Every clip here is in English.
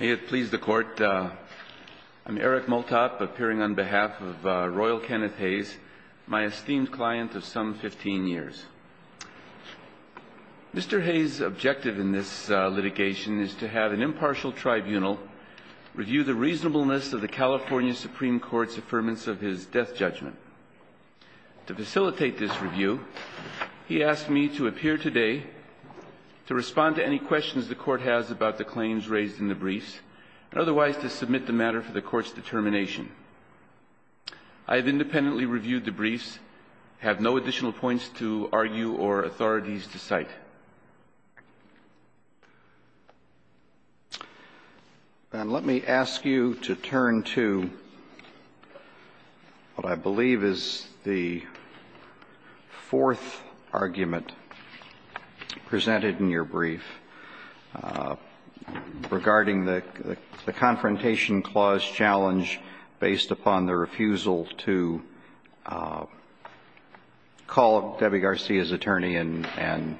May it please the Court, I'm Eric Multop, appearing on behalf of Royal Kenneth Hayes, my esteemed client of some 15 years. Mr. Hayes' objective in this litigation is to have an impartial tribunal review the reasonableness of the California Supreme Court's affirmance of his death judgment. To facilitate this review, he asked me to appear today to respond to any questions the Court has about the claims raised in the briefs, and otherwise to submit the matter for the Court's determination. I have independently reviewed the briefs, have no additional points to argue or authorities to cite. And let me ask you to turn to what I believe is the fourth argument presented in your brief regarding the Confrontation Clause challenge based upon the refusal to call Debbie Garcia's attorney and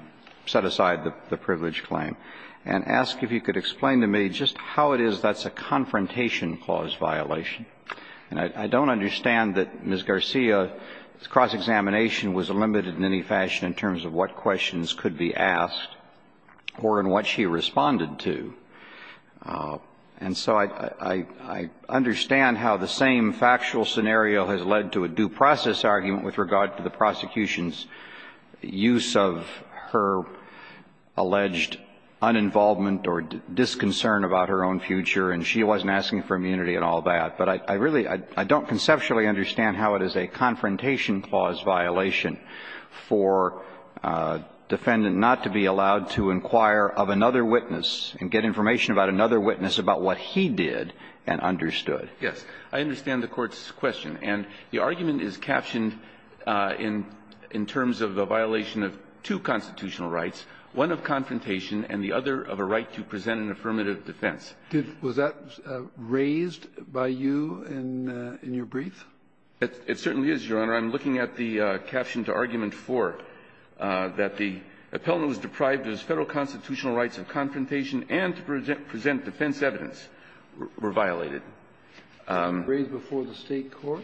set aside the privilege claim, and ask if you could explain to me just how it is that's a Confrontation Clause violation. And I don't understand that Ms. Garcia's cross-examination was limited in any fashion in terms of what questions could be asked or in what she responded to. And so I understand how the same factual scenario has led to a due process argument with regard to the prosecution's use of her alleged uninvolvement or disconcern about her own future, and she wasn't asking for immunity and all that. But I really don't conceptually understand how it is a Confrontation Clause violation for a defendant not to be allowed to inquire of another witness and get information about another witness about what he did and understood. Yes. I understand the Court's question. And the argument is captioned in terms of a violation of two constitutional rights, one of confrontation and the other of a right to present an affirmative defense. Was that raised by you in your brief? It certainly is, Your Honor. I'm looking at the caption to argument 4 that the appellant was deprived of his Federal constitutional rights of confrontation and to present defense evidence were violated. Was that raised before the State court?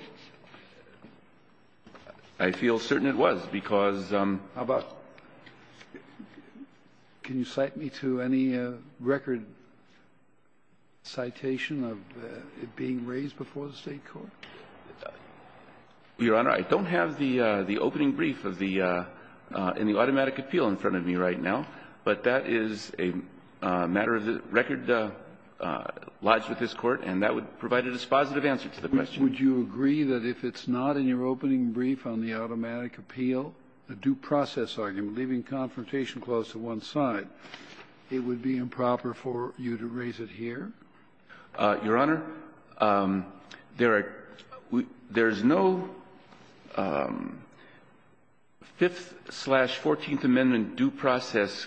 I feel certain it was, because ---- How about can you cite me to any record citation of it being raised before the State court? Your Honor, I don't have the opening brief in the automatic appeal in front of me right now, but that is a matter of the record lodged with this Court, and that would provide a dispositive answer to the question. Would you agree that if it's not in your opening brief on the automatic appeal, the due process argument, leaving Confrontation Clause to one side, it would be improper for you to raise it here? Your Honor, there are no 5th-slash-14th Amendment due process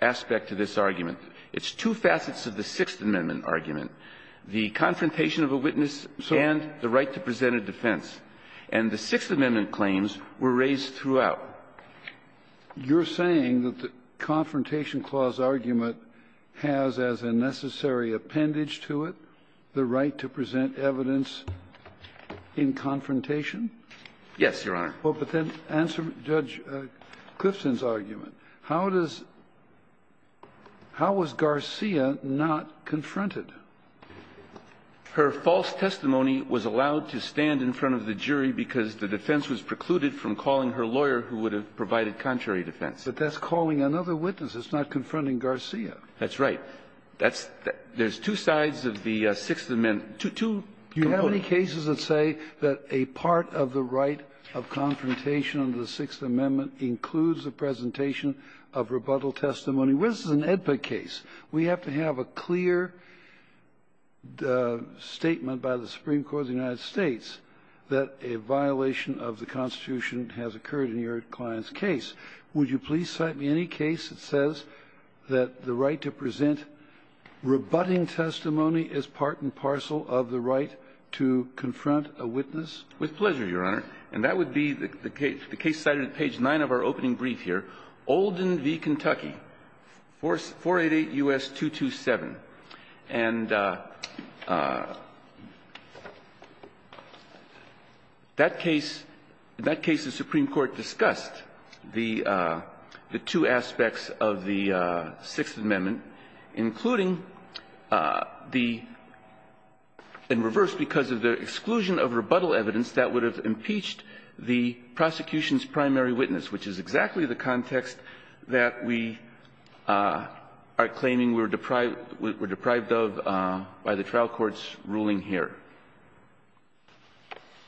aspect to this argument. It's two facets of the Sixth Amendment argument, the confrontation of a witness and the right to present a defense. And the Sixth Amendment claims were raised throughout. You're saying that the Confrontation Clause argument has as a necessary appendage to it the right to present evidence in confrontation? Yes, Your Honor. Well, but then answer Judge Clifson's argument. How does ---- how was Garcia not confronted? Her false testimony was allowed to stand in front of the jury because the defense was precluded from calling her lawyer who would have provided contrary defense. But that's calling another witness. It's not confronting Garcia. That's right. That's the ---- there's two sides of the Sixth Amendment, two components. Do you have any cases that say that a part of the right of confrontation under the Sixth Amendment includes the presentation of rebuttal testimony? This is an AEDPA case. We have to have a clear statement by the Supreme Court of the United States that a violation of the Constitution has occurred in your client's case. Would you please cite me any case that says that the right to present rebutting testimony is part and parcel of the right to confront a witness? With pleasure, Your Honor. And that would be the case cited at page 9 of our opening brief here, Olden v. Kentucky, 488 U.S. 227. And that case, in that case the Supreme Court discussed the two aspects of the Sixth Amendment, including the ---- in reverse, because of the exclusion of rebuttal evidence that would have impeached the prosecution's primary witness, which is exactly the context that we are claiming we're deprived of by the trial court's ruling here.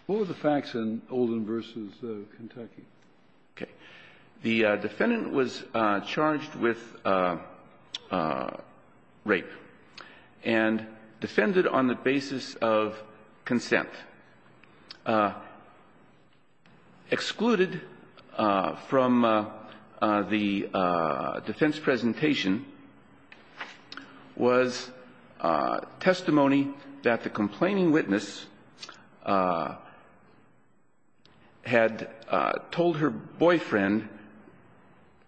What were the facts in Olden v. Kentucky? Okay. The defendant was charged with rape and defended on the basis of consent. Excluded from the defense presentation was testimony that the complaining witness had told her boyfriend,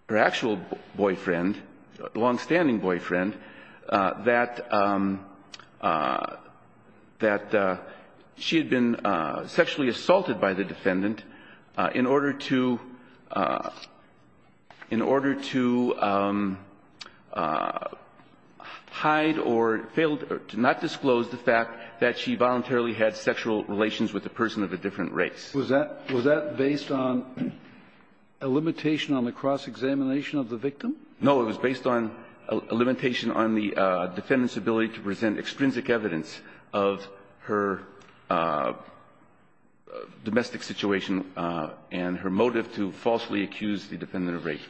her actual boyfriend, longstanding boyfriend, that she had been sexually assaulted by the defendant in order to hide or failed to not disclose the fact that she voluntarily had sexual relations with a person of a different race. Was that based on a limitation on the cross-examination of the victim? No. It was based on a limitation on the defendant's ability to present extrinsic evidence of her domestic situation and her motive to falsely accuse the defendant of rape.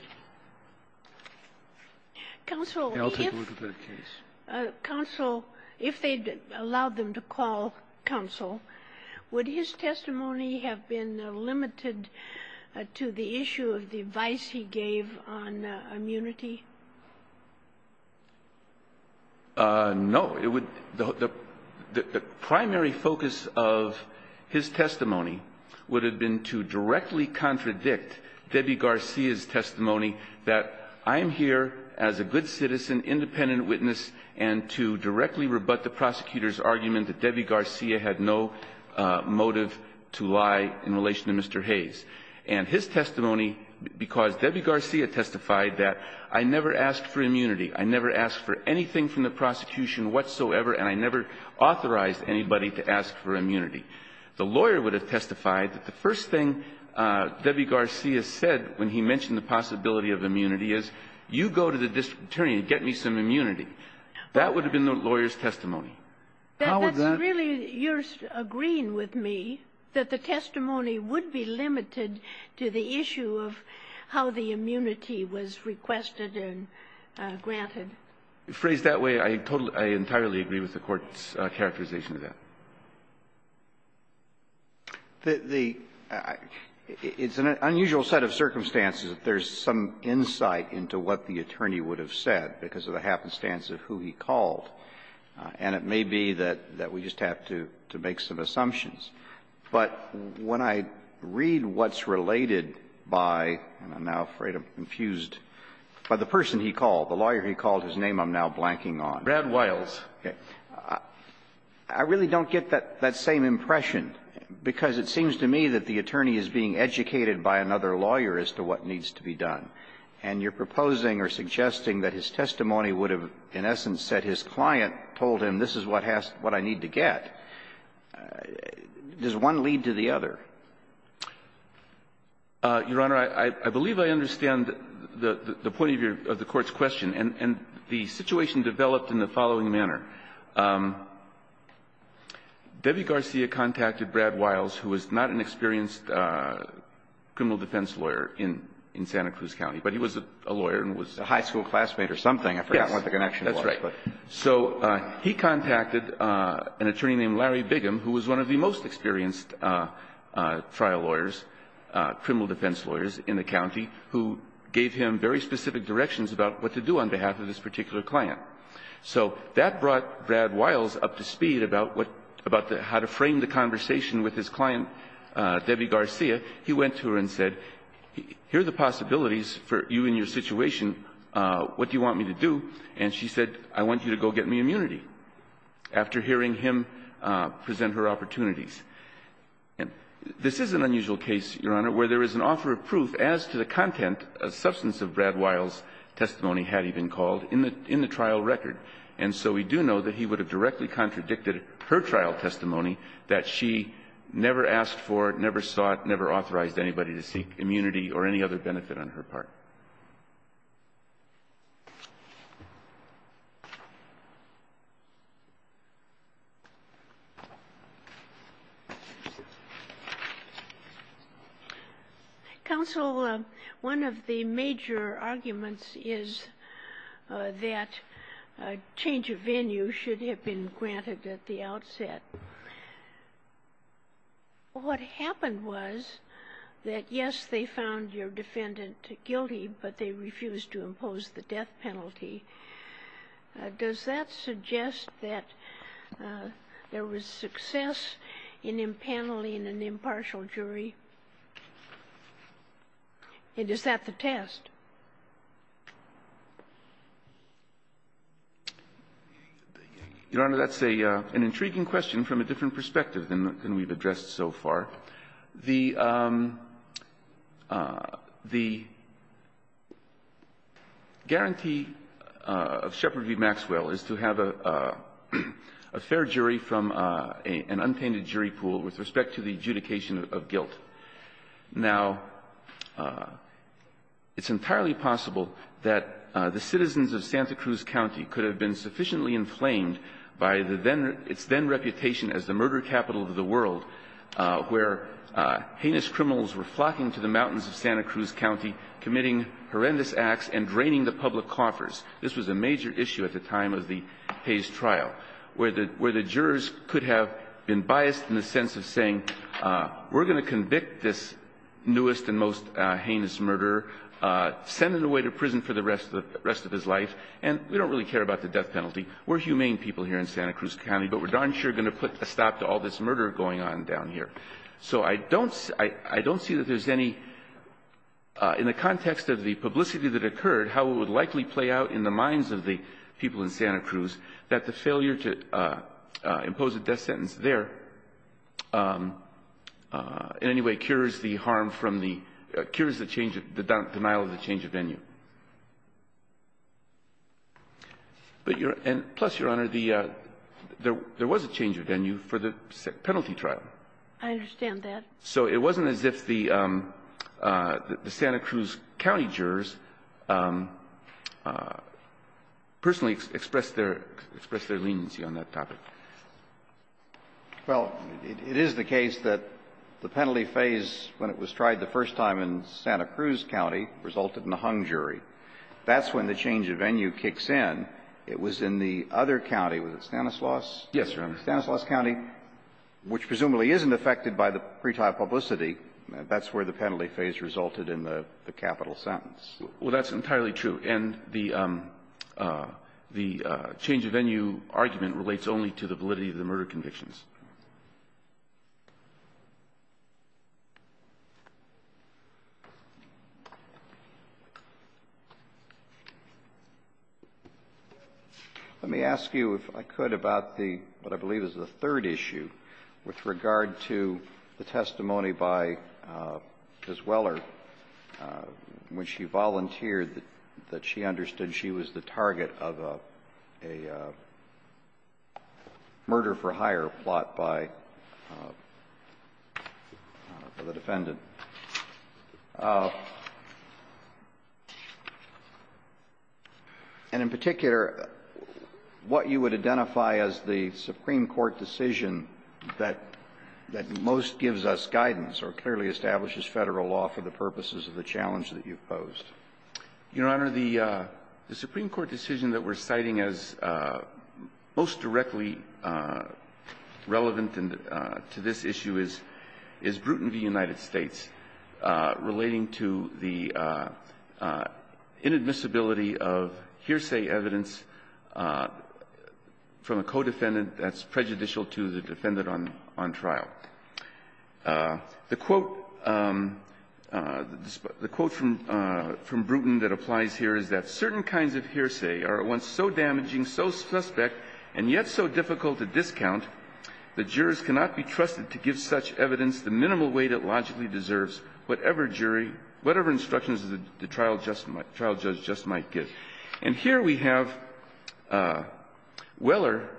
Counsel, if they allowed them to call counsel, would his testimony have been limited to the issue of the advice he gave on immunity? No. It would the primary focus of his testimony would have been to directly contradict Debbie Garcia's testimony that I'm here as a good citizen, independent witness, and to directly rebut the prosecutor's argument that Debbie Garcia had no motive to lie in relation to Mr. Hayes. And his testimony, because Debbie Garcia testified that I never asked for immunity, I never asked for anything from the prosecution whatsoever, and I never authorized anybody to ask for immunity, the lawyer would have testified that the first thing Debbie Garcia said when he mentioned the possibility of immunity is, you go to the district attorney and get me some immunity. That would have been the lawyer's testimony. How would that be? That's really, you're agreeing with me that the testimony would be limited to the issue of how the immunity was requested and granted. Phrased that way, I totally entirely agree with the Court's characterization of that. The unusual set of circumstances, if there's some insight into what the attorney would have said because of the happenstance of who he called, and it may be that we just have to make some assumptions. But when I read what's related by, and I'm now afraid I'm confused, by the person he called, the lawyer he called, his name I'm now blanking on. Breyer, I really don't get that same impression, because it seems to me that the attorney is being educated by another lawyer as to what needs to be done. And you're proposing or suggesting that his testimony would have, in essence, said his client told him, this is what I need to get. Does one lead to the other? Your Honor, I believe I understand the point of the Court's question. And the situation developed in the following manner. Debbie Garcia contacted Brad Wiles, who was not an experienced criminal defense lawyer in Santa Cruz County, but he was a lawyer and was a high school classmate or something. I forgot what the connection was. Yes, that's right. So he contacted an attorney named Larry Bigum, who was one of the most experienced trial lawyers, criminal defense lawyers in the county, who gave him very specific directions about what to do on behalf of this particular client. So that brought Brad Wiles up to speed about how to frame the conversation with his client, Debbie Garcia. He went to her and said, here are the possibilities for you and your situation. What do you want me to do? And she said, I want you to go get me immunity, after hearing him present her opportunities. This is an unusual case, Your Honor, where there is an offer of proof as to the content of substance of Brad Wiles' testimony, had he been called, in the trial record. And so we do know that he would have directly contradicted her trial testimony that she never asked for, never sought, never authorized anybody to seek immunity or any other benefit on her part. Counsel, one of the major arguments is that change of venue should have been granted What happened was that, yes, they found your defendant guilty, but they refused to impose the death penalty. Does that suggest that there was success in impaneling an impartial jury? And is that the test? Your Honor, that's an intriguing question from a different perspective than we've addressed so far. The guarantee of Shepard v. Maxwell is to have a fair jury from an unpainted jury pool with respect to the adjudication of guilt. Now, it's entirely possible that the citizens of Santa Cruz County could have been sufficiently inflamed by its then reputation as the murder capital of the world, where heinous criminals were flocking to the mountains of Santa Cruz County, committing horrendous acts and draining the public coffers. This was a major issue at the time of the Hayes trial, where the jurors could have been biased in the sense of saying, we're going to convict this newest and most heinous murderer, send him away to prison for the rest of his life, and we don't really care about the death penalty. We're humane people here in Santa Cruz County, but we're darn sure going to put a stop to all this murder going on down here. So I don't see that there's any – in the context of the publicity that occurred, how it would likely play out in the minds of the people in Santa Cruz that the failure to put an end to the violence there, in any way, cures the harm from the – cures the denial of the change of venue. But your – and plus, Your Honor, the – there was a change of venue for the penalty trial. I understand that. So it wasn't as if the Santa Cruz County jurors personally expressed their leniency on that topic. Well, it is the case that the penalty phase, when it was tried the first time in Santa Cruz County, resulted in a hung jury. That's when the change of venue kicks in. It was in the other county. Was it Stanislaus? Yes, Your Honor. Stanislaus County, which presumably isn't affected by the pretrial publicity. That's where the penalty phase resulted in the capital sentence. Well, that's entirely true. And the change of venue argument relates only to the validity of the murder convictions. Let me ask you, if I could, about the – what I believe is the third issue with regard to the testimony by Ms. Weller, when she volunteered, that she understood she was the target of a murder-for-hire plot by the defendant. And in particular, what you would identify as the Supreme Court decision that you believe that most gives us guidance or clearly establishes Federal law for the purposes of the challenge that you've posed? Your Honor, the Supreme Court decision that we're citing as most directly relevant to this issue is Bruton v. United States, relating to the inadmissibility of hearsay evidence from a co-defendant that's prejudicial to the defendant on trial. The quote from Bruton that applies here is that certain kinds of hearsay are at once so damaging, so suspect, and yet so difficult to discount, the jurors cannot be trusted to give such evidence the minimal weight it logically deserves, whatever jury, whatever instructions the trial judge just might give. And here we have Weller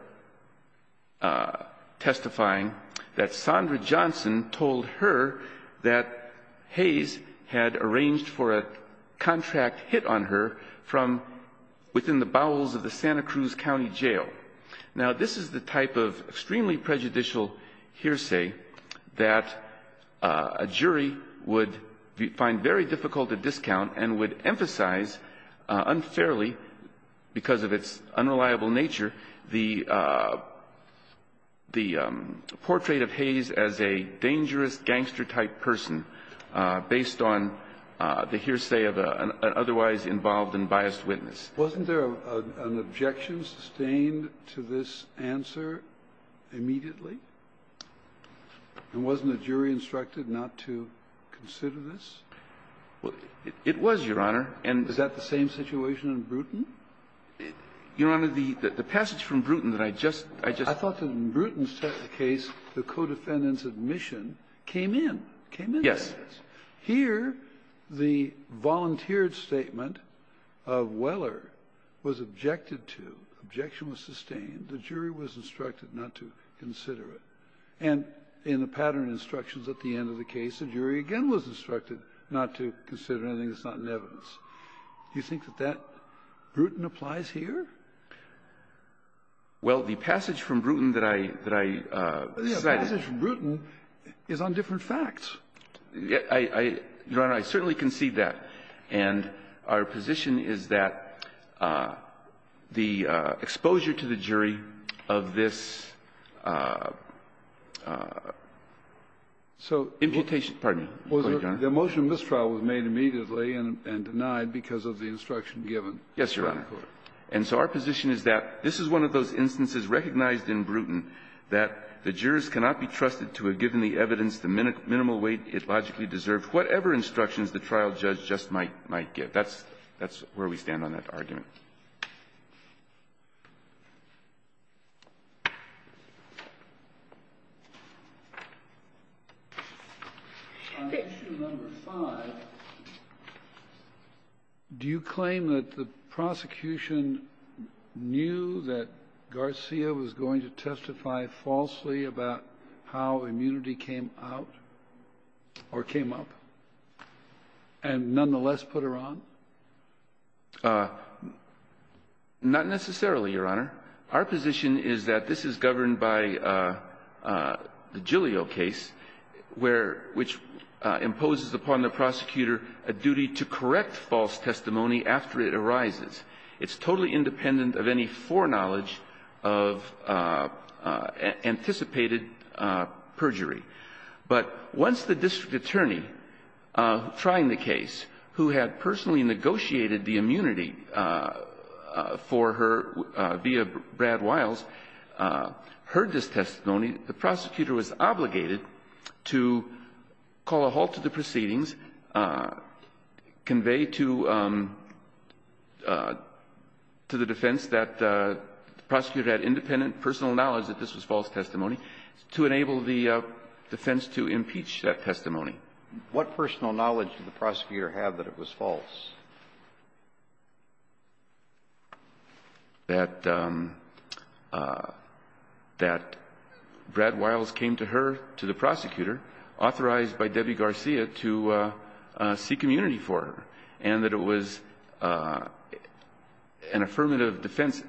testifying that Sondra Johnson told her that Hayes had arranged for a contract hit on her from within the bowels of the Santa Cruz County Jail. Now, this is the type of extremely prejudicial hearsay that a jury would find very difficult to discount and would emphasize unfairly, because of its unreliable nature, the portrait of Hayes as a dangerous gangster-type person based on the hearsay of an otherwise involved and biased witness. Wasn't there an objection sustained to this answer immediately? And wasn't the jury instructed not to consider this? Well, it was, Your Honor. And is that the same situation in Bruton? Your Honor, the passage from Bruton that I just ---- I thought that in Bruton's case, the co-defendant's admission came in. It came in. Yes. Here, the volunteered statement of Weller was objected to. Objection was sustained. The jury was instructed not to consider it. And in the pattern instructions at the end of the case, the jury again was instructed not to consider anything that's not in evidence. Do you think that that, Bruton, applies here? Well, the passage from Bruton that I cited ---- But the passage from Bruton is on different facts. Your Honor, I certainly concede that. And our position is that the exposure to the jury of this imputation ---- Pardon me. The motion of this trial was made immediately and denied because of the instruction given. Yes, Your Honor. And so our position is that this is one of those instances recognized in Bruton that the jurors cannot be trusted to have given the evidence the minimal weight it logically deserved, whatever instructions the trial judge just might give. That's where we stand on that argument. On issue number 5, do you claim that the prosecution knew that Garcia was going to testify falsely about how immunity came out or came up and nonetheless put her on? Not necessarily, Your Honor. Our position is that this is governed by the Giglio case, where ---- which imposes upon the prosecutor a duty to correct false testimony after it arises. It's totally independent of any foreknowledge of anticipated perjury. But once the district attorney trying the case who had personally negotiated the immunity for her via Brad Wiles heard this testimony, the prosecutor was obligated to call a halt to the proceedings, convey to the defense that the prosecutor had independent personal knowledge that this was false testimony to enable the defense to impeach that testimony. What personal knowledge did the prosecutor have that it was false? That Brad Wiles came to her, to the prosecutor, authorized by Debbie Garcia to seek immunity for her, and that it was an affirmative defense,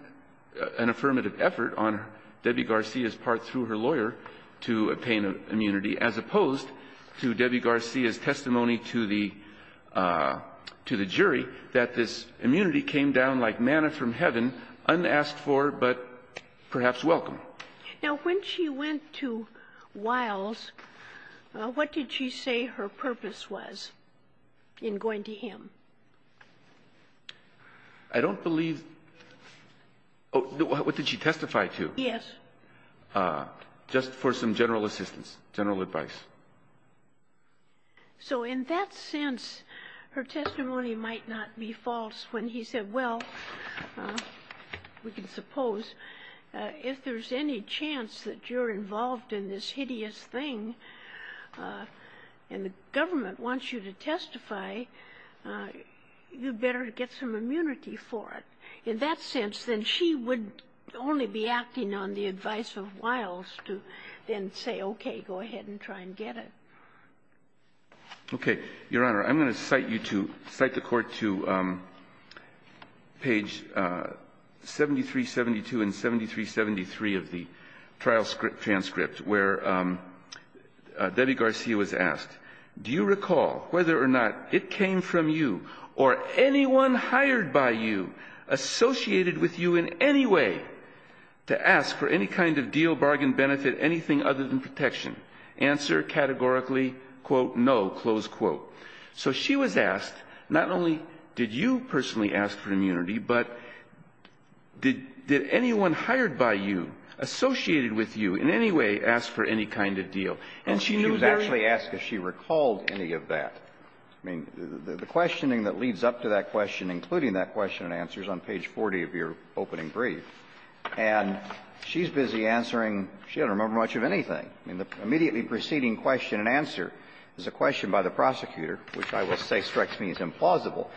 an affirmative effort on Debbie Garcia's part through her lawyer to obtain immunity, as opposed to Debbie Garcia, the jury, that this immunity came down like manna from heaven, unasked for, but perhaps welcome. Now, when she went to Wiles, what did she say her purpose was in going to him? I don't believe ---- what did she testify to? Yes. Just for some general assistance, general advice. So in that sense, her testimony might not be false when he said, well, we can suppose if there's any chance that you're involved in this hideous thing and the government wants you to testify, you better get some immunity for it. In that sense, then she would only be acting on the advice of Wiles to then say, okay, go ahead and try and get it. Okay. Your Honor, I'm going to cite you to ---- cite the Court to page 7372 and 7373 of the trial transcript, where Debbie Garcia was asked, do you recall whether or not it came from you or anyone hired by you, associated with you in any way, to ask for any kind of deal, bargain, benefit, anything other than protection? Answer categorically, quote, no, close quote. So she was asked, not only did you personally ask for immunity, but did anyone hired by you, associated with you in any way, ask for any kind of deal? And she knew very ---- She was actually asked if she recalled any of that. I mean, the questioning that leads up to that question, including that question and answers on page 40 of your opening brief, and she's busy answering, she doesn't remember much of anything. I mean, the immediately preceding question and answer is a question by the prosecutor, which I will say strikes me as implausible.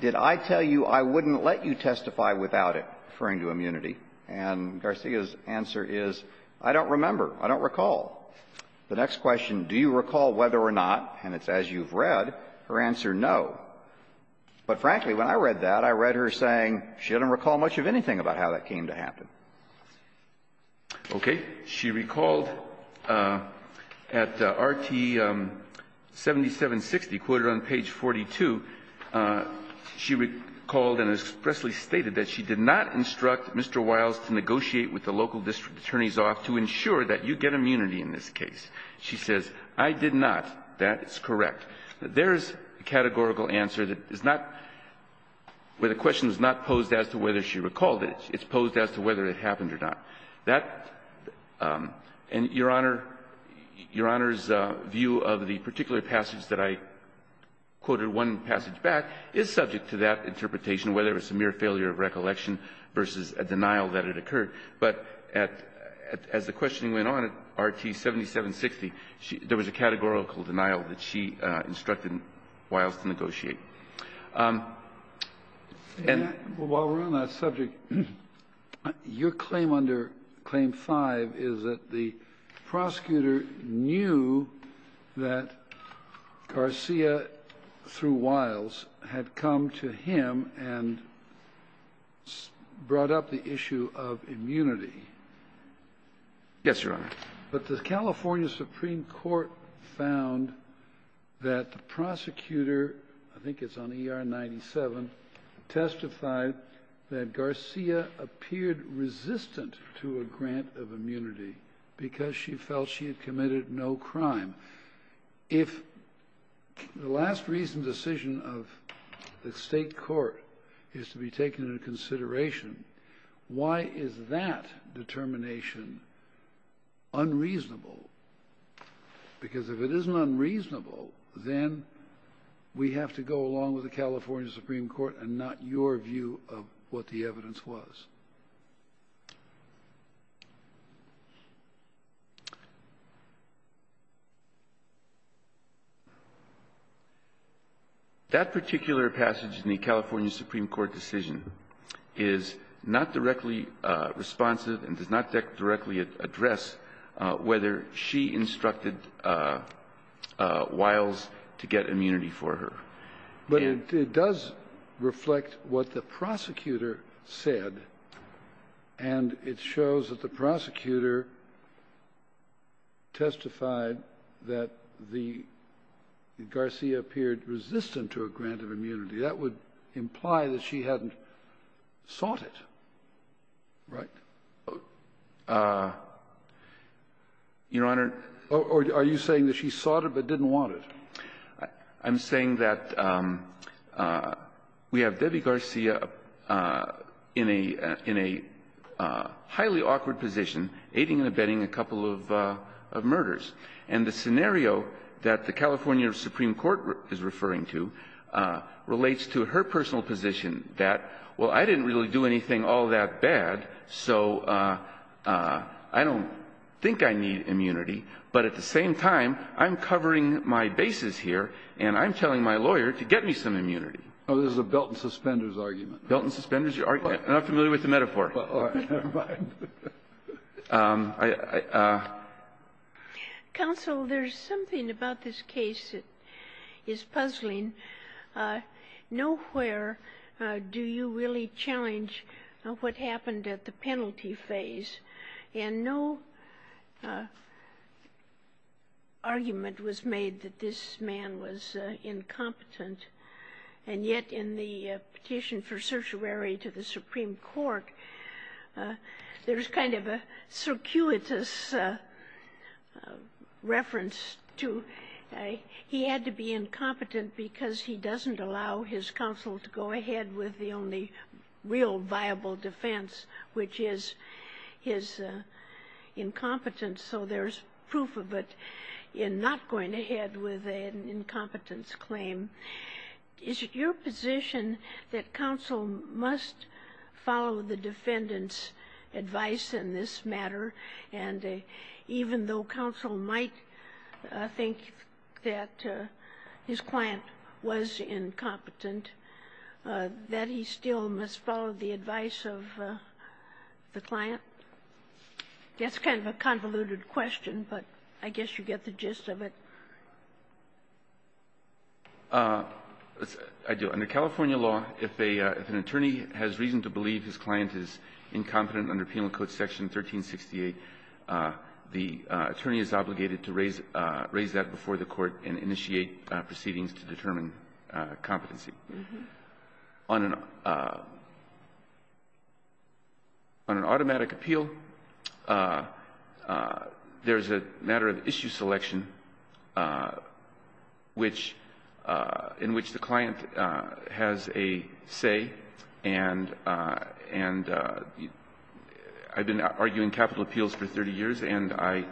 Did I tell you I wouldn't let you testify without it, referring to immunity? And Garcia's answer is, I don't remember. I don't recall. The next question, do you recall whether or not, and it's as you've read, her answer, no. But frankly, when I read that, I read her saying she didn't recall much of anything about how that came to happen. Okay. She recalled at Rt. 7760, quoted on page 42, she recalled and expressly stated that she did not instruct Mr. Wiles to negotiate with the local district attorneys off to ensure that you get immunity in this case. She says, I did not. That is correct. There is a categorical answer that is not, where the question is not posed as to whether she recalled it. It's posed as to whether it happened or not. That, and Your Honor's view of the particular passage that I quoted one passage back is subject to that interpretation, whether it's a mere failure of recollection versus a denial that it occurred. But at the question that went on at Rt. 7760, there was a categorical denial that she instructed Wiles to negotiate. And while we're on that subject, your claim under Claim 5 is that the prosecutor knew that Garcia, through Wiles, had come to him and brought up the issue of immunity Yes, Your Honor. But the California Supreme Court found that the prosecutor, I think it's on ER 97, testified that Garcia appeared resistant to a grant of immunity because she felt she had committed no crime. If the last reason decision of the State court is to be unreasonable, because if it isn't unreasonable, then we have to go along with the California Supreme Court and not your view of what the evidence was. That particular passage in the California Supreme Court decision is not directly and does not directly address whether she instructed Wiles to get immunity for her. But it does reflect what the prosecutor said, and it shows that the prosecutor testified that the Garcia appeared resistant to a grant of immunity. That would imply that she hadn't sought it, right? Your Honor. Are you saying that she sought it but didn't want it? I'm saying that we have Debbie Garcia in a highly awkward position, aiding and abetting a couple of murders. And the scenario that the California Supreme Court is referring to relates to her personal position that, well, I didn't really do anything all that bad, so I don't think I need immunity. But at the same time, I'm covering my bases here, and I'm telling my lawyer to get me some immunity. Oh, this is a belt-and-suspenders argument. Belt-and-suspenders. I'm not familiar with the metaphor. Counsel, there's something about this case that is puzzling. Nowhere do you really challenge what happened at the penalty phase. And no argument was made that this man was incompetent. And yet in the petition for certiorari to the Supreme Court, there's kind of a circuitous reference to he had to be incompetent because he doesn't allow his counsel to go ahead with the only real viable defense, which is his incompetence. So there's proof of it in not going ahead with an incompetence claim. Is it your position that counsel must follow the defendant's advice in this matter, and even though counsel might think that his client was incompetent, that he still must follow the advice of the client? That's kind of a convoluted question, but I guess you get the gist of it. I do. Under California law, if an attorney has reason to believe his client is incompetent under Penal Code Section 1368, the attorney is obligated to raise that before the court. On an automatic appeal, there's a matter of issue selection which the client has a say, and I've been arguing capital appeals for 30 years, and I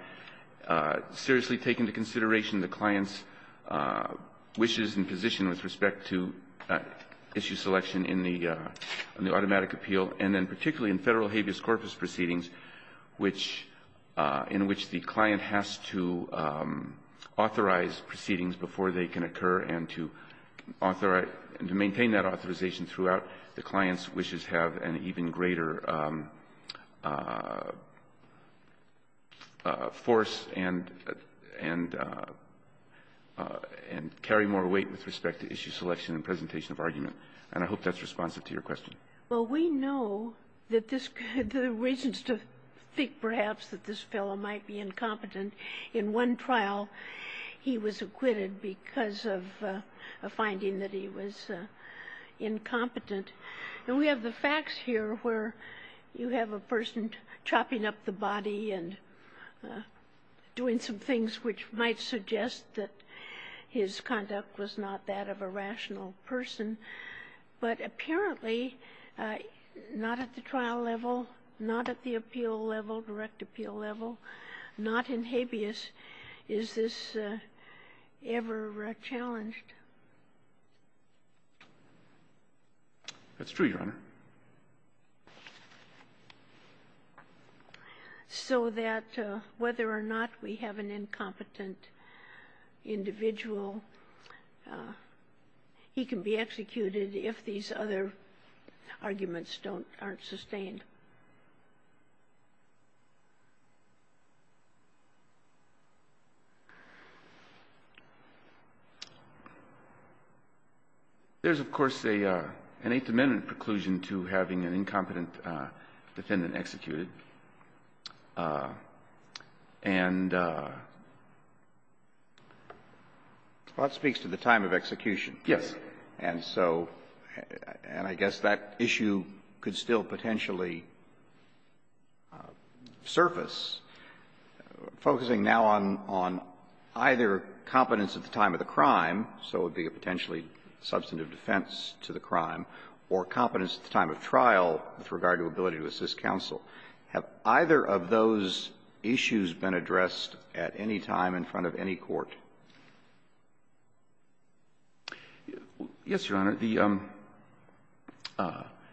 seriously take into consideration the client's wishes and position with respect to issue selection in the automatic appeal, and then particularly in Federal habeas corpus proceedings, in which the client has to authorize proceedings before they can occur, and to maintain that authorization throughout, the client's wishes have an even greater force and carry more weight with respect to issue selection and presentation of argument. And I hope that's responsive to your question. Well, we know that this guy, the reasons to think perhaps that this fellow might be incompetent, in one trial he was acquitted because of a finding that he was incompetent. And we have the facts here where you have a person chopping up the body and doing some things which might suggest that his conduct was not that of a rational person. But apparently, not at the trial level, not at the appeal level, direct appeal level, not in habeas, is this ever challenged? That's true, Your Honor. So that whether or not we have an incompetent individual, he can be executed if these other arguments aren't sustained. There's, of course, an Eighth Amendment preclusion to having an incompetent defendant executed, and that speaks to the time of execution. Yes. And so and I guess that issue could still potentially be challenged. On the surface, focusing now on either competence at the time of the crime, so it would be a potentially substantive defense to the crime, or competence at the time of trial with regard to ability to assist counsel, have either of those issues been addressed at any time in front of any court? Yes, Your Honor. The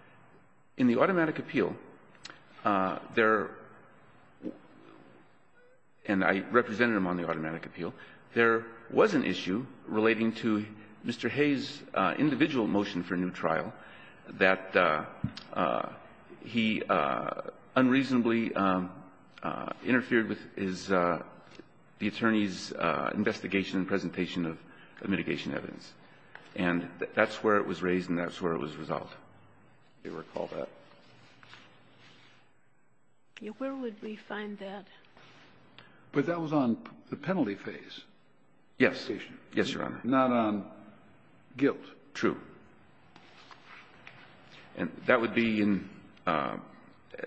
– in the automatic appeal, there – and I represented him on the automatic appeal – there was an issue relating to Mr. Hayes' individual motion for a new trial that he unreasonably interfered with his – the attorney's investigation and presentation of mitigation evidence. And that's where it was raised and that's where it was resolved. Do you recall that? Where would we find that? But that was on the penalty phase. Yes. Yes, Your Honor. Not on guilt. True. And that would be in –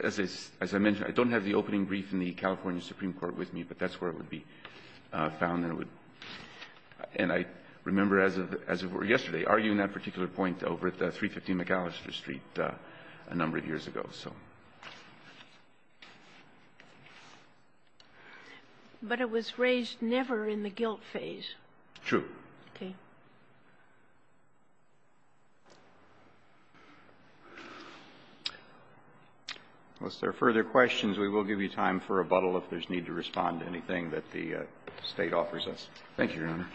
as I mentioned, I don't have the opening brief in the California Supreme Court with me, but that's where it would be found and it would – and I remember as of yesterday, arguing that particular point over at 350 McAllister Street a number of years ago, so. But it was raised never in the guilt phase. True. Okay. Unless there are further questions, we will give you time for rebuttal if there's need to respond to anything that the State offers us. Thank you, Your Honor.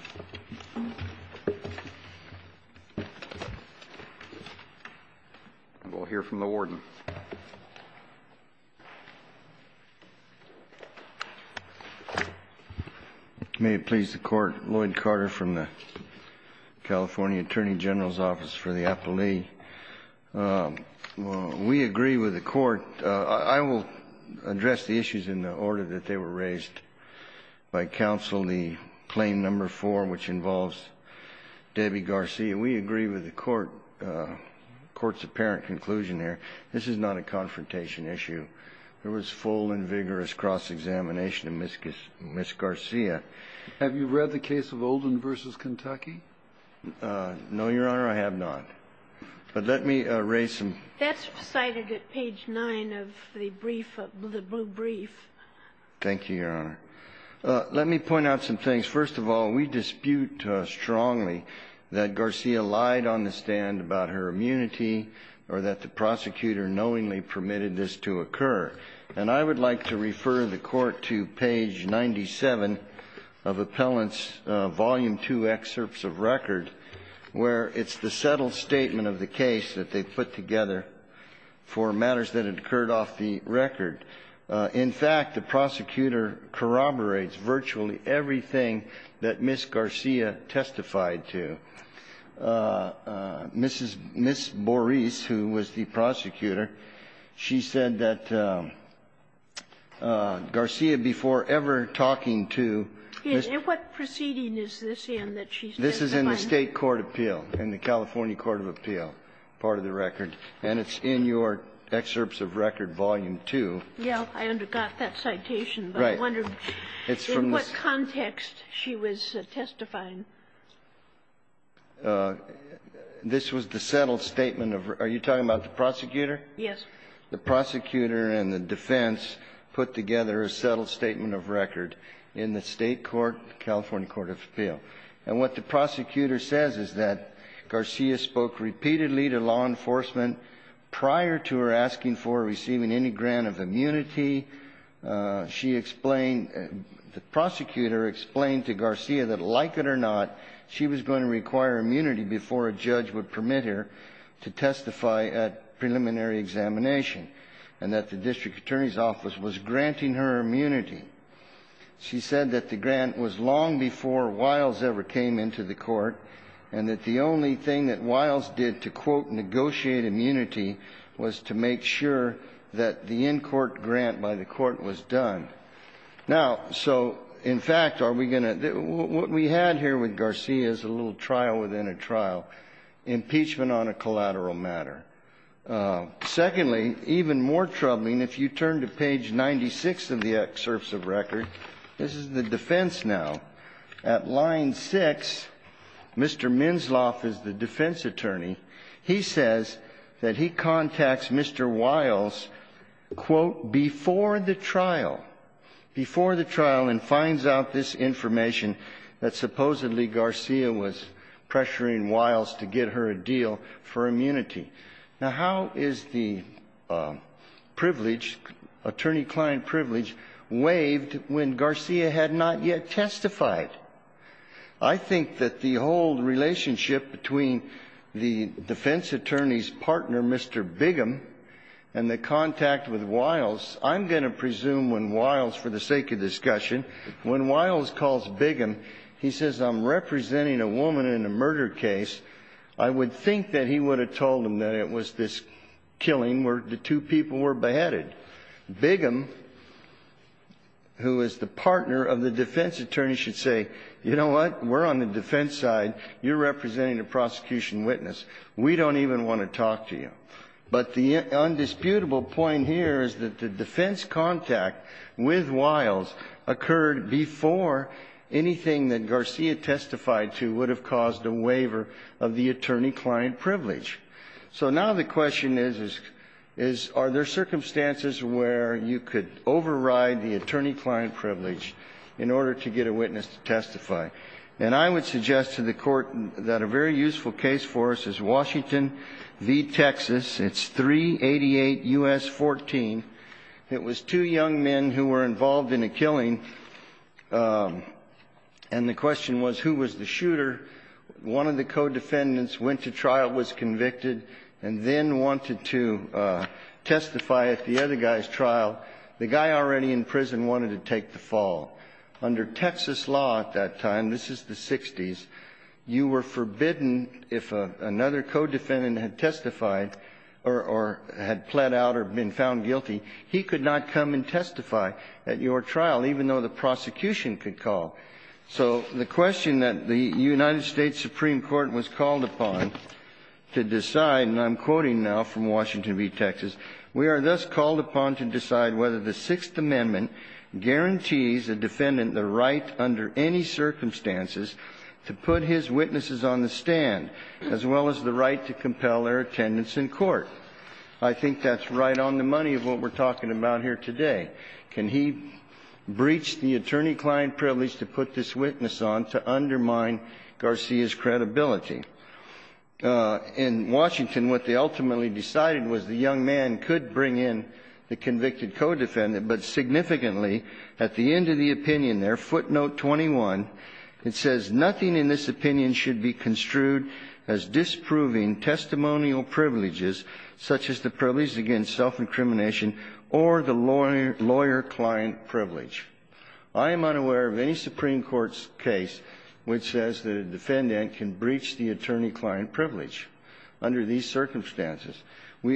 And we'll hear from the warden. May it please the Court. Lloyd Carter from the California Attorney General's Office for the Appellee. We agree with the Court. I will address the issues in the order that they were raised by counsel, the Claim No. 4, which involves Debbie Garcia. We agree with the Court's apparent conclusion here. This is not a confrontation issue. There was full and vigorous cross-examination of Ms. Garcia. Have you read the case of Olden v. Kentucky? No, Your Honor, I have not. But let me raise some – That's cited at page 9 of the brief, the blue brief. Thank you, Your Honor. Let me point out some things. First of all, we dispute strongly that Garcia lied on the stand about her immunity or that the prosecutor knowingly permitted this to occur. And I would like to refer the Court to page 97 of Appellant's Volume 2 Excerpts of Record, where it's the settled statement of the case that they put together for matters that had occurred off the record. In fact, the prosecutor corroborates virtually everything that Ms. Garcia testified to. Mrs. – Ms. Borris, who was the prosecutor, she said that Garcia, before ever talking to Ms. – And what proceeding is this in that she's testifying? This is in the State court appeal, in the California court of appeal, part of the record. And it's in your Excerpts of Record, Volume 2. Yeah. I undercut that citation. But I wonder in what context she was testifying. This was the settled statement of – are you talking about the prosecutor? Yes. The prosecutor and the defense put together a settled statement of record in the State court, California court of appeal. And what the prosecutor says is that Garcia spoke repeatedly to law enforcement She explained – the prosecutor explained to Garcia that, like it or not, she was going to require immunity before a judge would permit her to testify at preliminary examination and that the district attorney's office was granting her immunity. She said that the grant was long before Wiles ever came into the court and that the only thing that Wiles did to, quote, negotiate immunity was to make sure that the in-court grant by the court was done. Now, so, in fact, are we going to – what we had here with Garcia is a little trial within a trial, impeachment on a collateral matter. Secondly, even more troubling, if you turn to page 96 of the Excerpts of Record, this is the defense now. At line 6, Mr. Minsloff is the defense attorney. He says that he contacts Mr. Wiles, quote, before the trial, before the trial and finds out this information that supposedly Garcia was pressuring Wiles to get her a deal for immunity. Now, how is the privilege, attorney-client privilege, waived when Garcia had not yet testified? I think that the whole relationship between the defense attorney's partner, Mr. Biggum, and the contact with Wiles, I'm going to presume when Wiles, for the sake of discussion, when Wiles calls Biggum, he says, I'm representing a woman in a murder case. I would think that he would have told him that it was this killing where the two people were beheaded. Biggum, who is the partner of the defense attorney, should say, you know what? We're on the defense side. You're representing a prosecution witness. We don't even want to talk to you. But the undisputable point here is that the defense contact with Wiles occurred before anything that Garcia testified to would have caused a waiver of the attorney-client privilege. So now the question is, are there circumstances where you could override the attorney-client privilege in order to get a witness to testify? And I would suggest to the Court that a very useful case for us is Washington v. Texas. It's 388 U.S. 14. It was two young men who were involved in a killing, and the question was, who was the shooter? One of the co-defendants went to trial, was convicted, and then wanted to testify at the other guy's trial. The guy already in prison wanted to take the fall. Under Texas law at that time, this is the 60s, you were forbidden if another co-defendant had testified or had pled out or been found guilty, he could not come and testify at your trial, even though the prosecution could call. So the question that the United States Supreme Court was called upon to decide, and I'm quoting now from Washington v. Texas, We are thus called upon to decide whether the Sixth Amendment guarantees a defendant the right under any circumstances to put his witnesses on the stand, as well as the right to compel their attendance in court. I think that's right on the money of what we're talking about here today. Can he breach the attorney-client privilege to put this witness on to undermine Garcia's credibility? In Washington, what they ultimately decided was the young man could bring in the convicted co-defendant, but significantly, at the end of the opinion there, footnote 21, it says nothing in this opinion should be construed as disproving testimonial privileges such as the privilege against self-incrimination or the lawyer-client privilege. I am unaware of any Supreme Court's case which says that a defendant can breach the attorney-client privilege under these circumstances.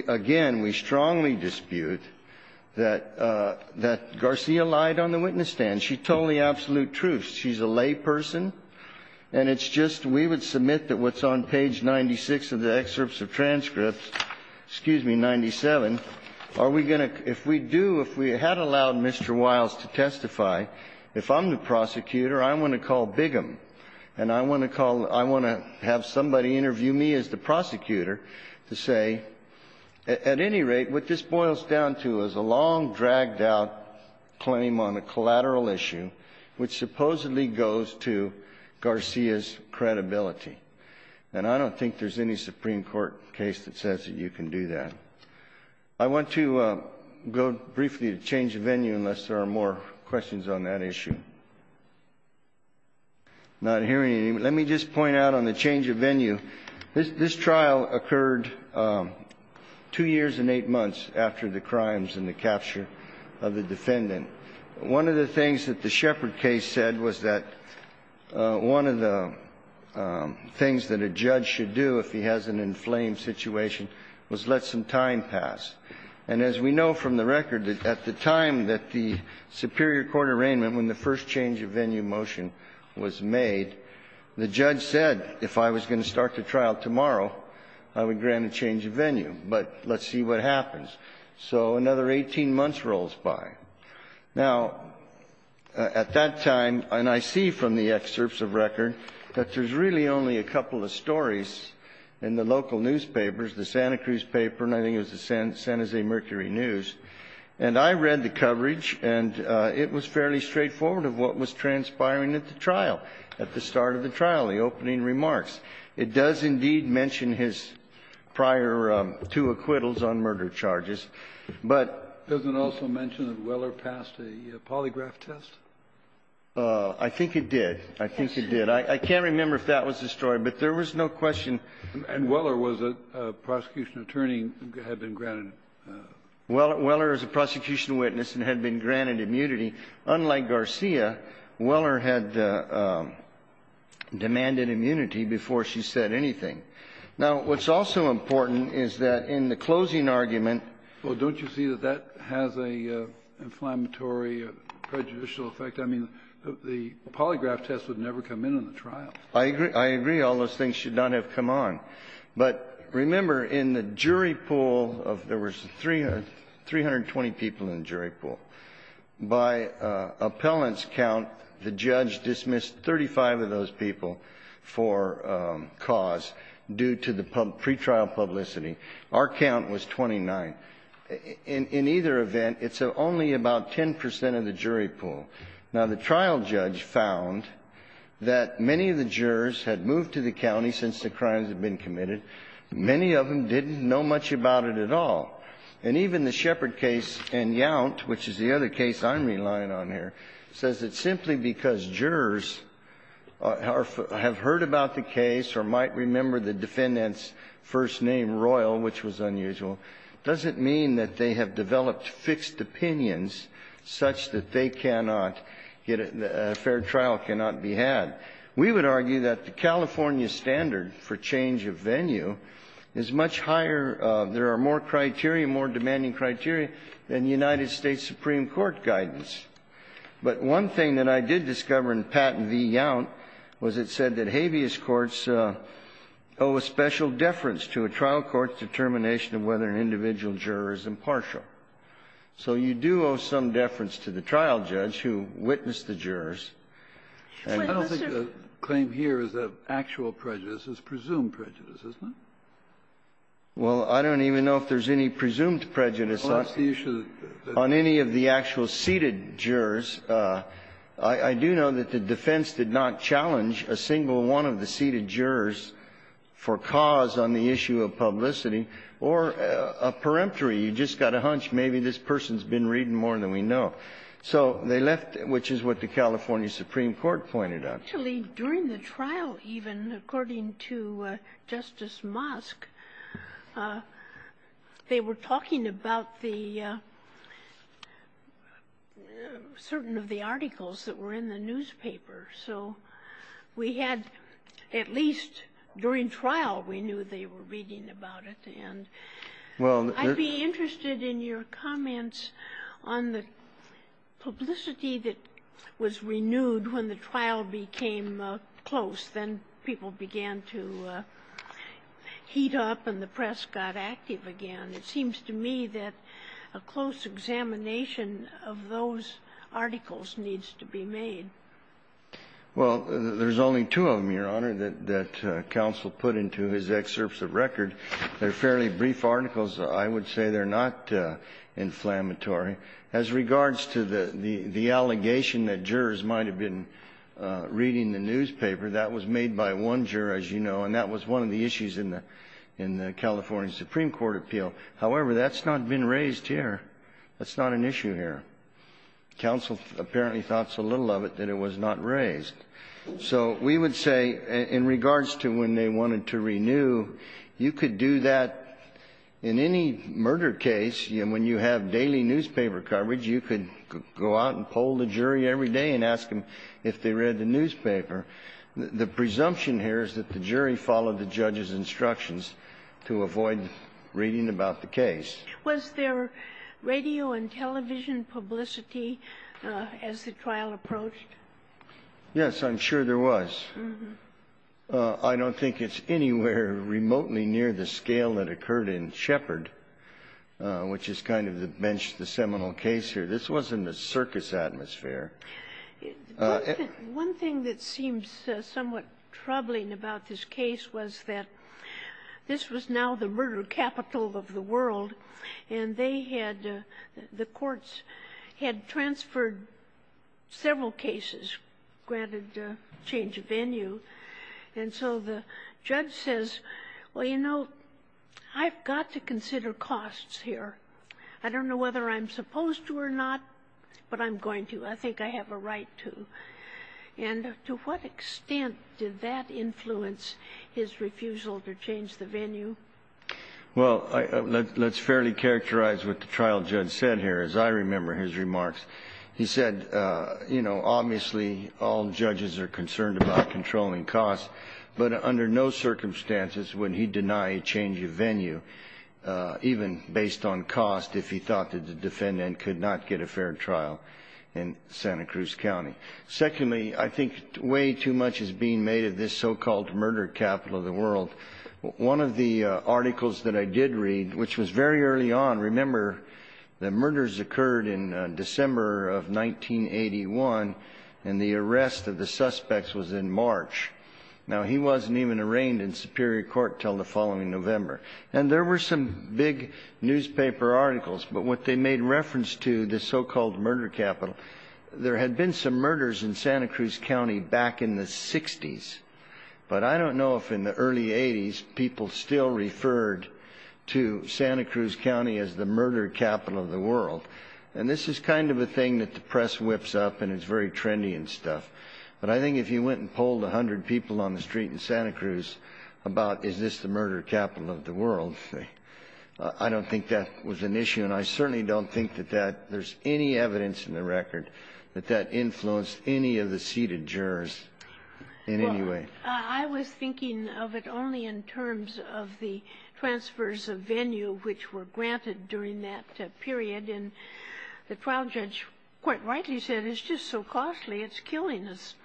Again, we strongly dispute that Garcia lied on the witness stand. She told the absolute truth. She's a layperson, and it's just we would submit that what's on page 96 of the excerpts of transcripts, excuse me, 97, are we going to — if we do, if we had allowed Mr. Wiles to testify, if I'm the prosecutor, I'm going to call Bigum, and I want to call — I want to have somebody interview me as the prosecutor to say, at any rate, what this boils down to is a long, dragged-out claim on a collateral issue which supposedly goes to Garcia's credibility. And I don't think there's any Supreme Court case that says that you can do that. I want to go briefly to change of venue unless there are more questions on that issue. I'm not hearing any. Let me just point out on the change of venue, this trial occurred two years and eight months after the crimes and the capture of the defendant. One of the things that the Shepard case said was that one of the things that a judge should do if he has an inflamed situation was let some time pass. And as we know from the record, at the time that the superior court arraignment, when the first change of venue motion was made, the judge said if I was going to start the trial tomorrow, I would grant a change of venue, but let's see what happens. So another 18 months rolls by. Now, at that time, and I see from the excerpts of record, that there's really only a couple of stories in the local newspapers, the Santa Cruz paper, and I think it was the San Jose Mercury News. And I read the coverage, and it was fairly straightforward of what was transpiring at the trial, at the start of the trial, the opening remarks. It does indeed mention his prior two acquittals on murder charges. But does it also mention that Weller passed a polygraph test? I think it did. I think it did. I can't remember if that was the story, but there was no question. And Weller was a prosecution attorney and had been granted immunity. Weller is a prosecution witness and had been granted immunity. Unlike Garcia, Weller had demanded immunity before she said anything. Now, what's also important is that in the closing argument ---- Well, don't you see that that has an inflammatory, prejudicial effect? I mean, the polygraph test would never come in on the trial. I agree. I agree. All those things should not have come on. But remember, in the jury pool, there was 320 people in the jury pool. By appellant's count, the judge dismissed 35 of those people for cause due to the pretrial publicity. Our count was 29. In either event, it's only about 10 percent of the jury pool. Now, the trial judge found that many of the jurors had moved to the county since the crimes had been committed. Many of them didn't know much about it at all. And even the Shepard case and Yount, which is the other case I'm relying on here, says that simply because jurors have heard about the case or might remember the defendant's first name, Royal, which was unusual, doesn't mean that they have developed fixed opinions such that they cannot get a fair trial, cannot be had. We would argue that the California standard for change of venue is much higher of, there are more criteria, more demanding criteria, than the United States Supreme Court guidance. But one thing that I did discover in Patent v. Yount was it said that habeas courts owe a special deference to a trial court's determination of whether an individual juror is impartial. So you do owe some deference to the trial judge who witnessed the jurors. And I don't think the claim here is of actual prejudice. It's presumed prejudice, isn't it? Well, I don't even know if there's any presumed prejudice on any of the actual seated jurors. I do know that the defense did not challenge a single one of the seated jurors for cause on the issue of publicity or a peremptory. You just got a hunch, maybe this person's been reading more than we know. So they left, which is what the California Supreme Court pointed out. Actually, during the trial, even, according to Justice Mosk, they were talking about the certain of the articles that were in the newspaper. So we had, at least during trial, we knew they were reading about it, and I'd be interested in your comments on the publicity that was renewed when the trial became close. Then people began to heat up and the press got active again. It seems to me that a close examination of those articles needs to be made. Well, there's only two of them, Your Honor, that counsel put into his excerpts of record. They're fairly brief articles. I would say they're not inflammatory. As regards to the allegation that jurors might have been reading the newspaper, that was made by one juror, as you know, and that was one of the issues in the California Supreme Court appeal. However, that's not been raised here. That's not an issue here. Counsel apparently thought so little of it that it was not raised. So we would say, in regards to when they wanted to renew, you could do that in any murder case, and when you have daily newspaper coverage, you could go out and poll the jury every day and ask them if they read the newspaper. The presumption here is that the jury followed the judge's instructions to avoid reading about the case. Was there radio and television publicity as the trial approached? Yes, I'm sure there was. I don't think it's anywhere remotely near the scale that occurred in Shepard, which is kind of the bench, the seminal case here. This wasn't a circus atmosphere. One thing that seems somewhat troubling about this case was that this was now the murder capital of the world, and they had the courts had transferred several cases, granted change of venue. And so the judge says, well, you know, I've got to consider costs here. I don't know whether I'm supposed to or not, but I'm going to. I think I have a right to. And to what extent did that influence his refusal to change the venue? Well, let's fairly characterize what the trial judge said here. As I remember his remarks, he said, you know, obviously all judges are concerned about controlling costs, but under no circumstances would he deny a change of venue, even based on cost, if he thought that the defendant could not get a fair trial in Santa Cruz County. Secondly, I think way too much is being made of this so-called murder capital of the world. One of the articles that I did read, which was very early on, remember the murders occurred in December of 1981 and the arrest of the suspects was in March. Now, he wasn't even arraigned in superior court till the following November. And there were some big newspaper articles. But what they made reference to, the so-called murder capital, there had been some murders in Santa Cruz County back in the 60s. But I don't know if in the early 80s people still referred to Santa Cruz County as the murder capital of the world. And this is kind of a thing that the press whips up and it's very trendy and stuff. But I think if you went and polled 100 people on the street in Santa Cruz about is this the murder capital of the world, I don't think that was an issue. And I certainly don't think that that there's any evidence in the record that that influenced any of the seated jurors in any way. I was thinking of it only in terms of the transfers of venue which were granted during that period. And the trial judge quite rightly said, it's just so costly, it's killing us.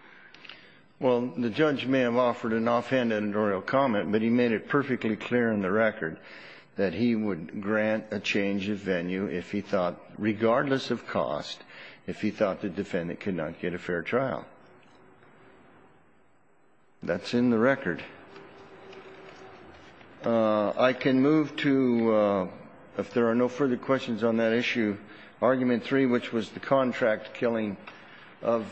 Well, the judge may have offered an offhand editorial comment, but he made it perfectly clear in the record that he would grant a change of venue if he thought, regardless of cost, if he thought the defendant could not get a fair trial. That's in the record. I can move to, if there are no further questions on that issue, argument three, which was the contract killing of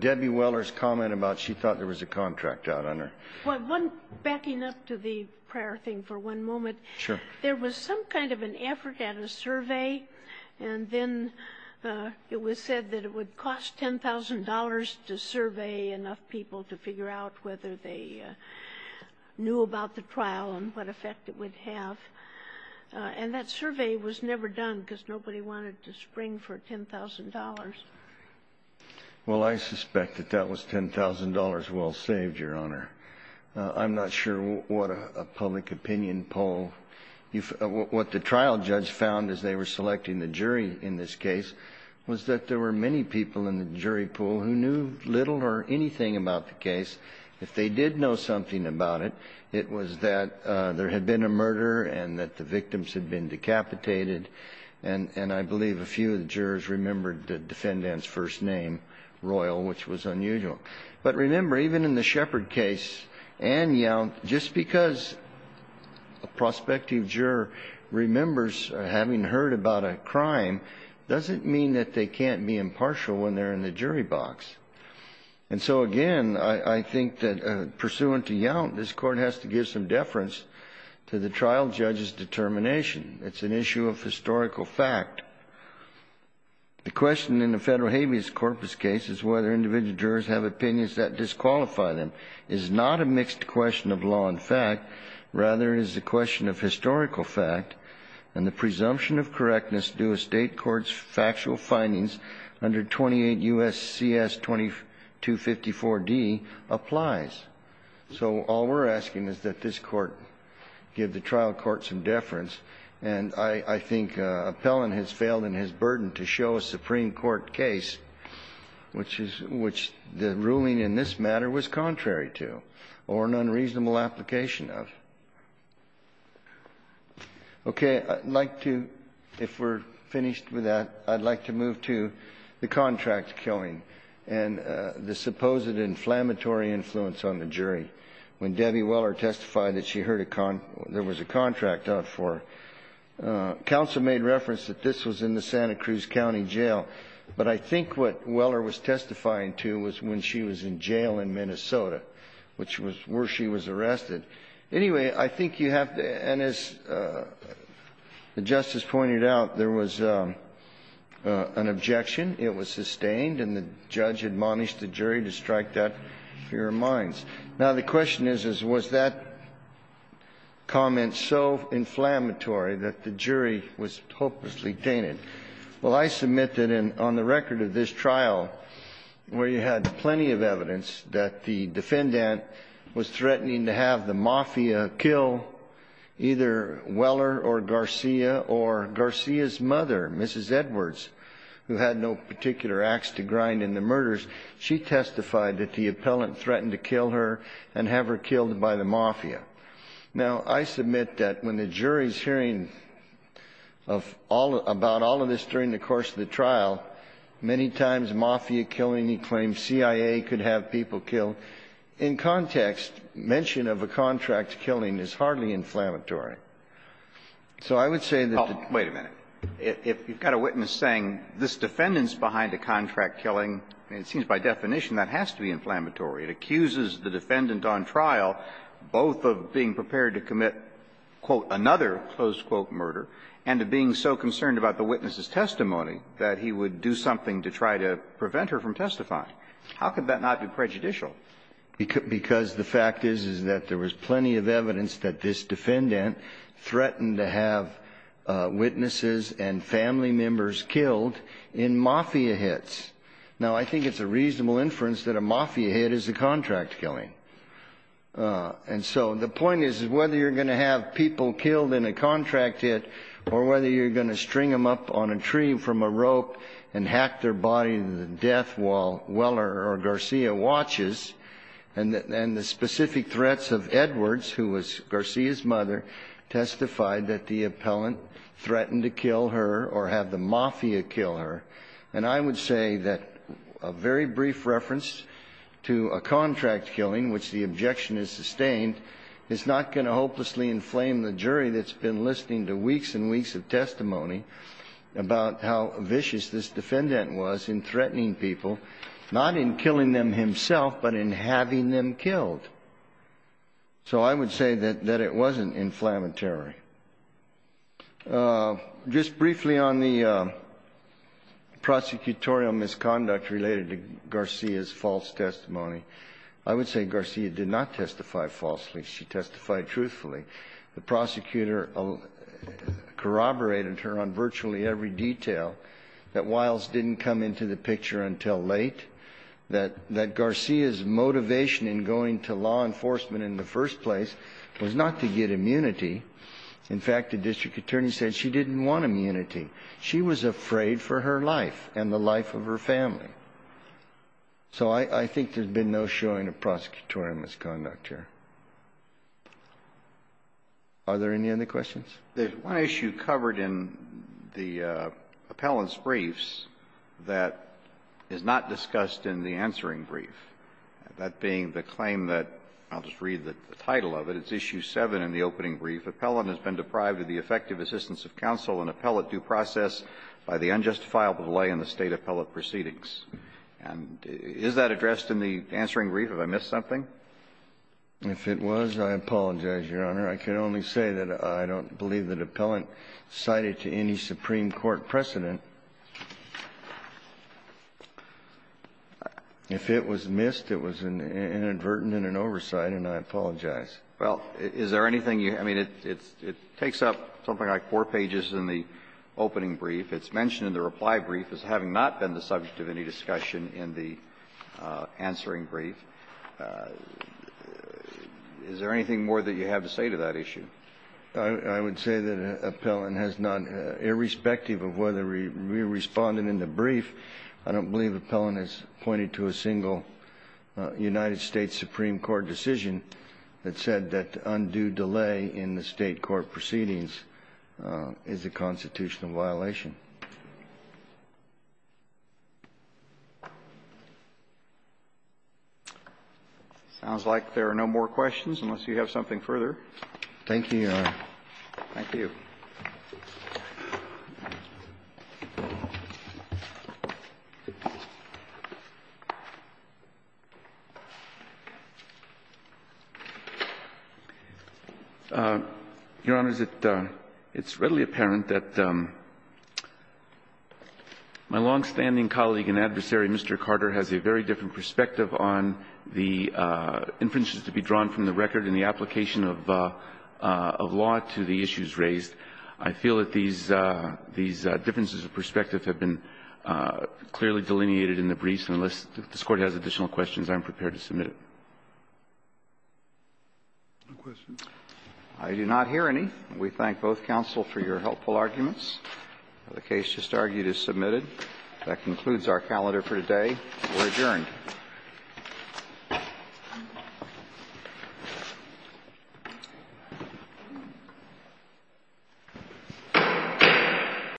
Debbie Weller's comment about she thought there was a contract out on her. Well, one, backing up to the prior thing for one moment. Sure. There was some kind of an effort at a survey, and then it was said that it would cost $10,000 to survey enough people to figure out whether they knew about the trial and what effect it would have. And that survey was never done because nobody wanted to spring for $10,000. Well, I suspect that that was $10,000 well-saved, Your Honor. I'm not sure what a public opinion poll you've --- what the trial judge found as they were selecting the jury in this case was that there were many people in the jury pool who knew little or anything about the case. If they did know something about it, it was that there had been a murder and that the victims had been decapitated. And I believe a few of the jurors remembered the defendant's first name, Royal, which was unusual. But remember, even in the Shepard case, Anne Young, just because a prospective juror remembers having heard about a crime doesn't mean that they can't be impartial when they're in the jury box. And so, again, I think that pursuant to Young, this Court has to give some deference to the trial judge's determination. It's an issue of historical fact. The question in the Federal Habeas Corpus case is whether individual jurors have opinions that disqualify them. And the presumption of correctness due a State court's factual findings under 28 U.S. C.S. 2254d applies. So all we're asking is that this Court give the trial court some deference. And I think Appellant has failed in his burden to show a Supreme Court case which the ruling in this matter was contrary. to, or an unreasonable application of. Okay. I'd like to, if we're finished with that, I'd like to move to the contract killing and the supposed inflammatory influence on the jury. When Debbie Weller testified that she heard a con or there was a contract out for her, counsel made reference that this was in the Santa Cruz County jail. But I think what Weller was testifying to was when she was in jail in Minnesota. Which was where she was arrested. Anyway, I think you have to, and as the Justice pointed out, there was an objection. It was sustained, and the judge admonished the jury to strike that to your minds. Now, the question is, was that comment so inflammatory that the jury was hopelessly tainted? Well, I submit that on the record of this trial, where you had plenty of evidence that the defendant was threatening to have the mafia kill either Weller or Garcia, or Garcia's mother, Mrs. Edwards, who had no particular axe to grind in the murders. She testified that the appellant threatened to kill her and have her killed by the mafia. Now, I submit that when the jury's hearing of all, about all of this during the course of the trial. Many times, mafia killing, he claimed CIA could have people killed. In context, mention of a contract killing is hardly inflammatory. So I would say that the Oh, wait a minute. If you've got a witness saying this defendant's behind a contract killing, and it seems by definition that has to be inflammatory. It accuses the defendant on trial, both of being prepared to commit, quote, another close quote murder, and being so concerned about the witness's testimony that he would do something to try to prevent her from testifying. How could that not be prejudicial? Because the fact is, is that there was plenty of evidence that this defendant threatened to have witnesses and family members killed in mafia hits. Now, I think it's a reasonable inference that a mafia hit is a contract killing. And so the point is, whether you're going to have people killed in a contract hit, or whether you're going to string them up on a tree from a rope and hack their body to death while Weller or Garcia watches. And the specific threats of Edwards, who was Garcia's mother, testified that the appellant threatened to kill her or have the mafia kill her. And I would say that a very brief reference to a contract killing, which the objection is sustained, is not going to hopelessly inflame the jury that's been listening to weeks and weeks of testimony about how vicious this defendant was in threatening people, not in killing them himself, but in having them killed. So I would say that it wasn't inflammatory. Just briefly on the prosecutorial misconduct related to Garcia's false testimony, I would say Garcia did not testify falsely. She testified truthfully. The prosecutor corroborated her on virtually every detail, that Wiles didn't come into the picture until late, that Garcia's motivation in going to law enforcement in the first place was not to get immunity. In fact, the district attorney said she didn't want immunity. She was afraid for her life and the life of her family. So I think there's been no showing of prosecutorial misconduct here. Are there any other questions? The one issue covered in the appellant's briefs that is not discussed in the answering brief, that being the claim that, I'll just read the title of it, it's Issue 7 in the opening brief. Appellant has been deprived of the effective assistance of counsel and appellate due process by the unjustifiable delay in the State appellate proceedings. And is that addressed in the answering brief? Have I missed something? If it was, I apologize, Your Honor. I can only say that I don't believe that appellant cited to any Supreme Court precedent. If it was missed, it was inadvertent in an oversight, and I apologize. Well, is there anything you – I mean, it takes up something like four pages in the opening brief. It's mentioned in the reply brief as having not been the subject of any discussion in the answering brief. Is there anything more that you have to say to that issue? I would say that appellant has not, irrespective of whether we responded in the brief, I don't believe appellant has pointed to a single United States Supreme Court decision that said that undue delay in the State court proceedings is a constitutional violation. Sounds like there are no more questions, unless you have something further. Thank you, Your Honor. Thank you. Your Honor, it's readily apparent that my longstanding colleague and adversary, Mr. Carter, has a very different perspective on the inferences to be drawn from the record in the application of law to the issues raised. I feel that these differences of perspective have been clearly delineated in the briefs. And unless this Court has additional questions, I'm prepared to submit it. No questions. I do not hear any. We thank both counsel for your helpful arguments. The case just argued is submitted. That concludes our calendar for today. We're adjourned.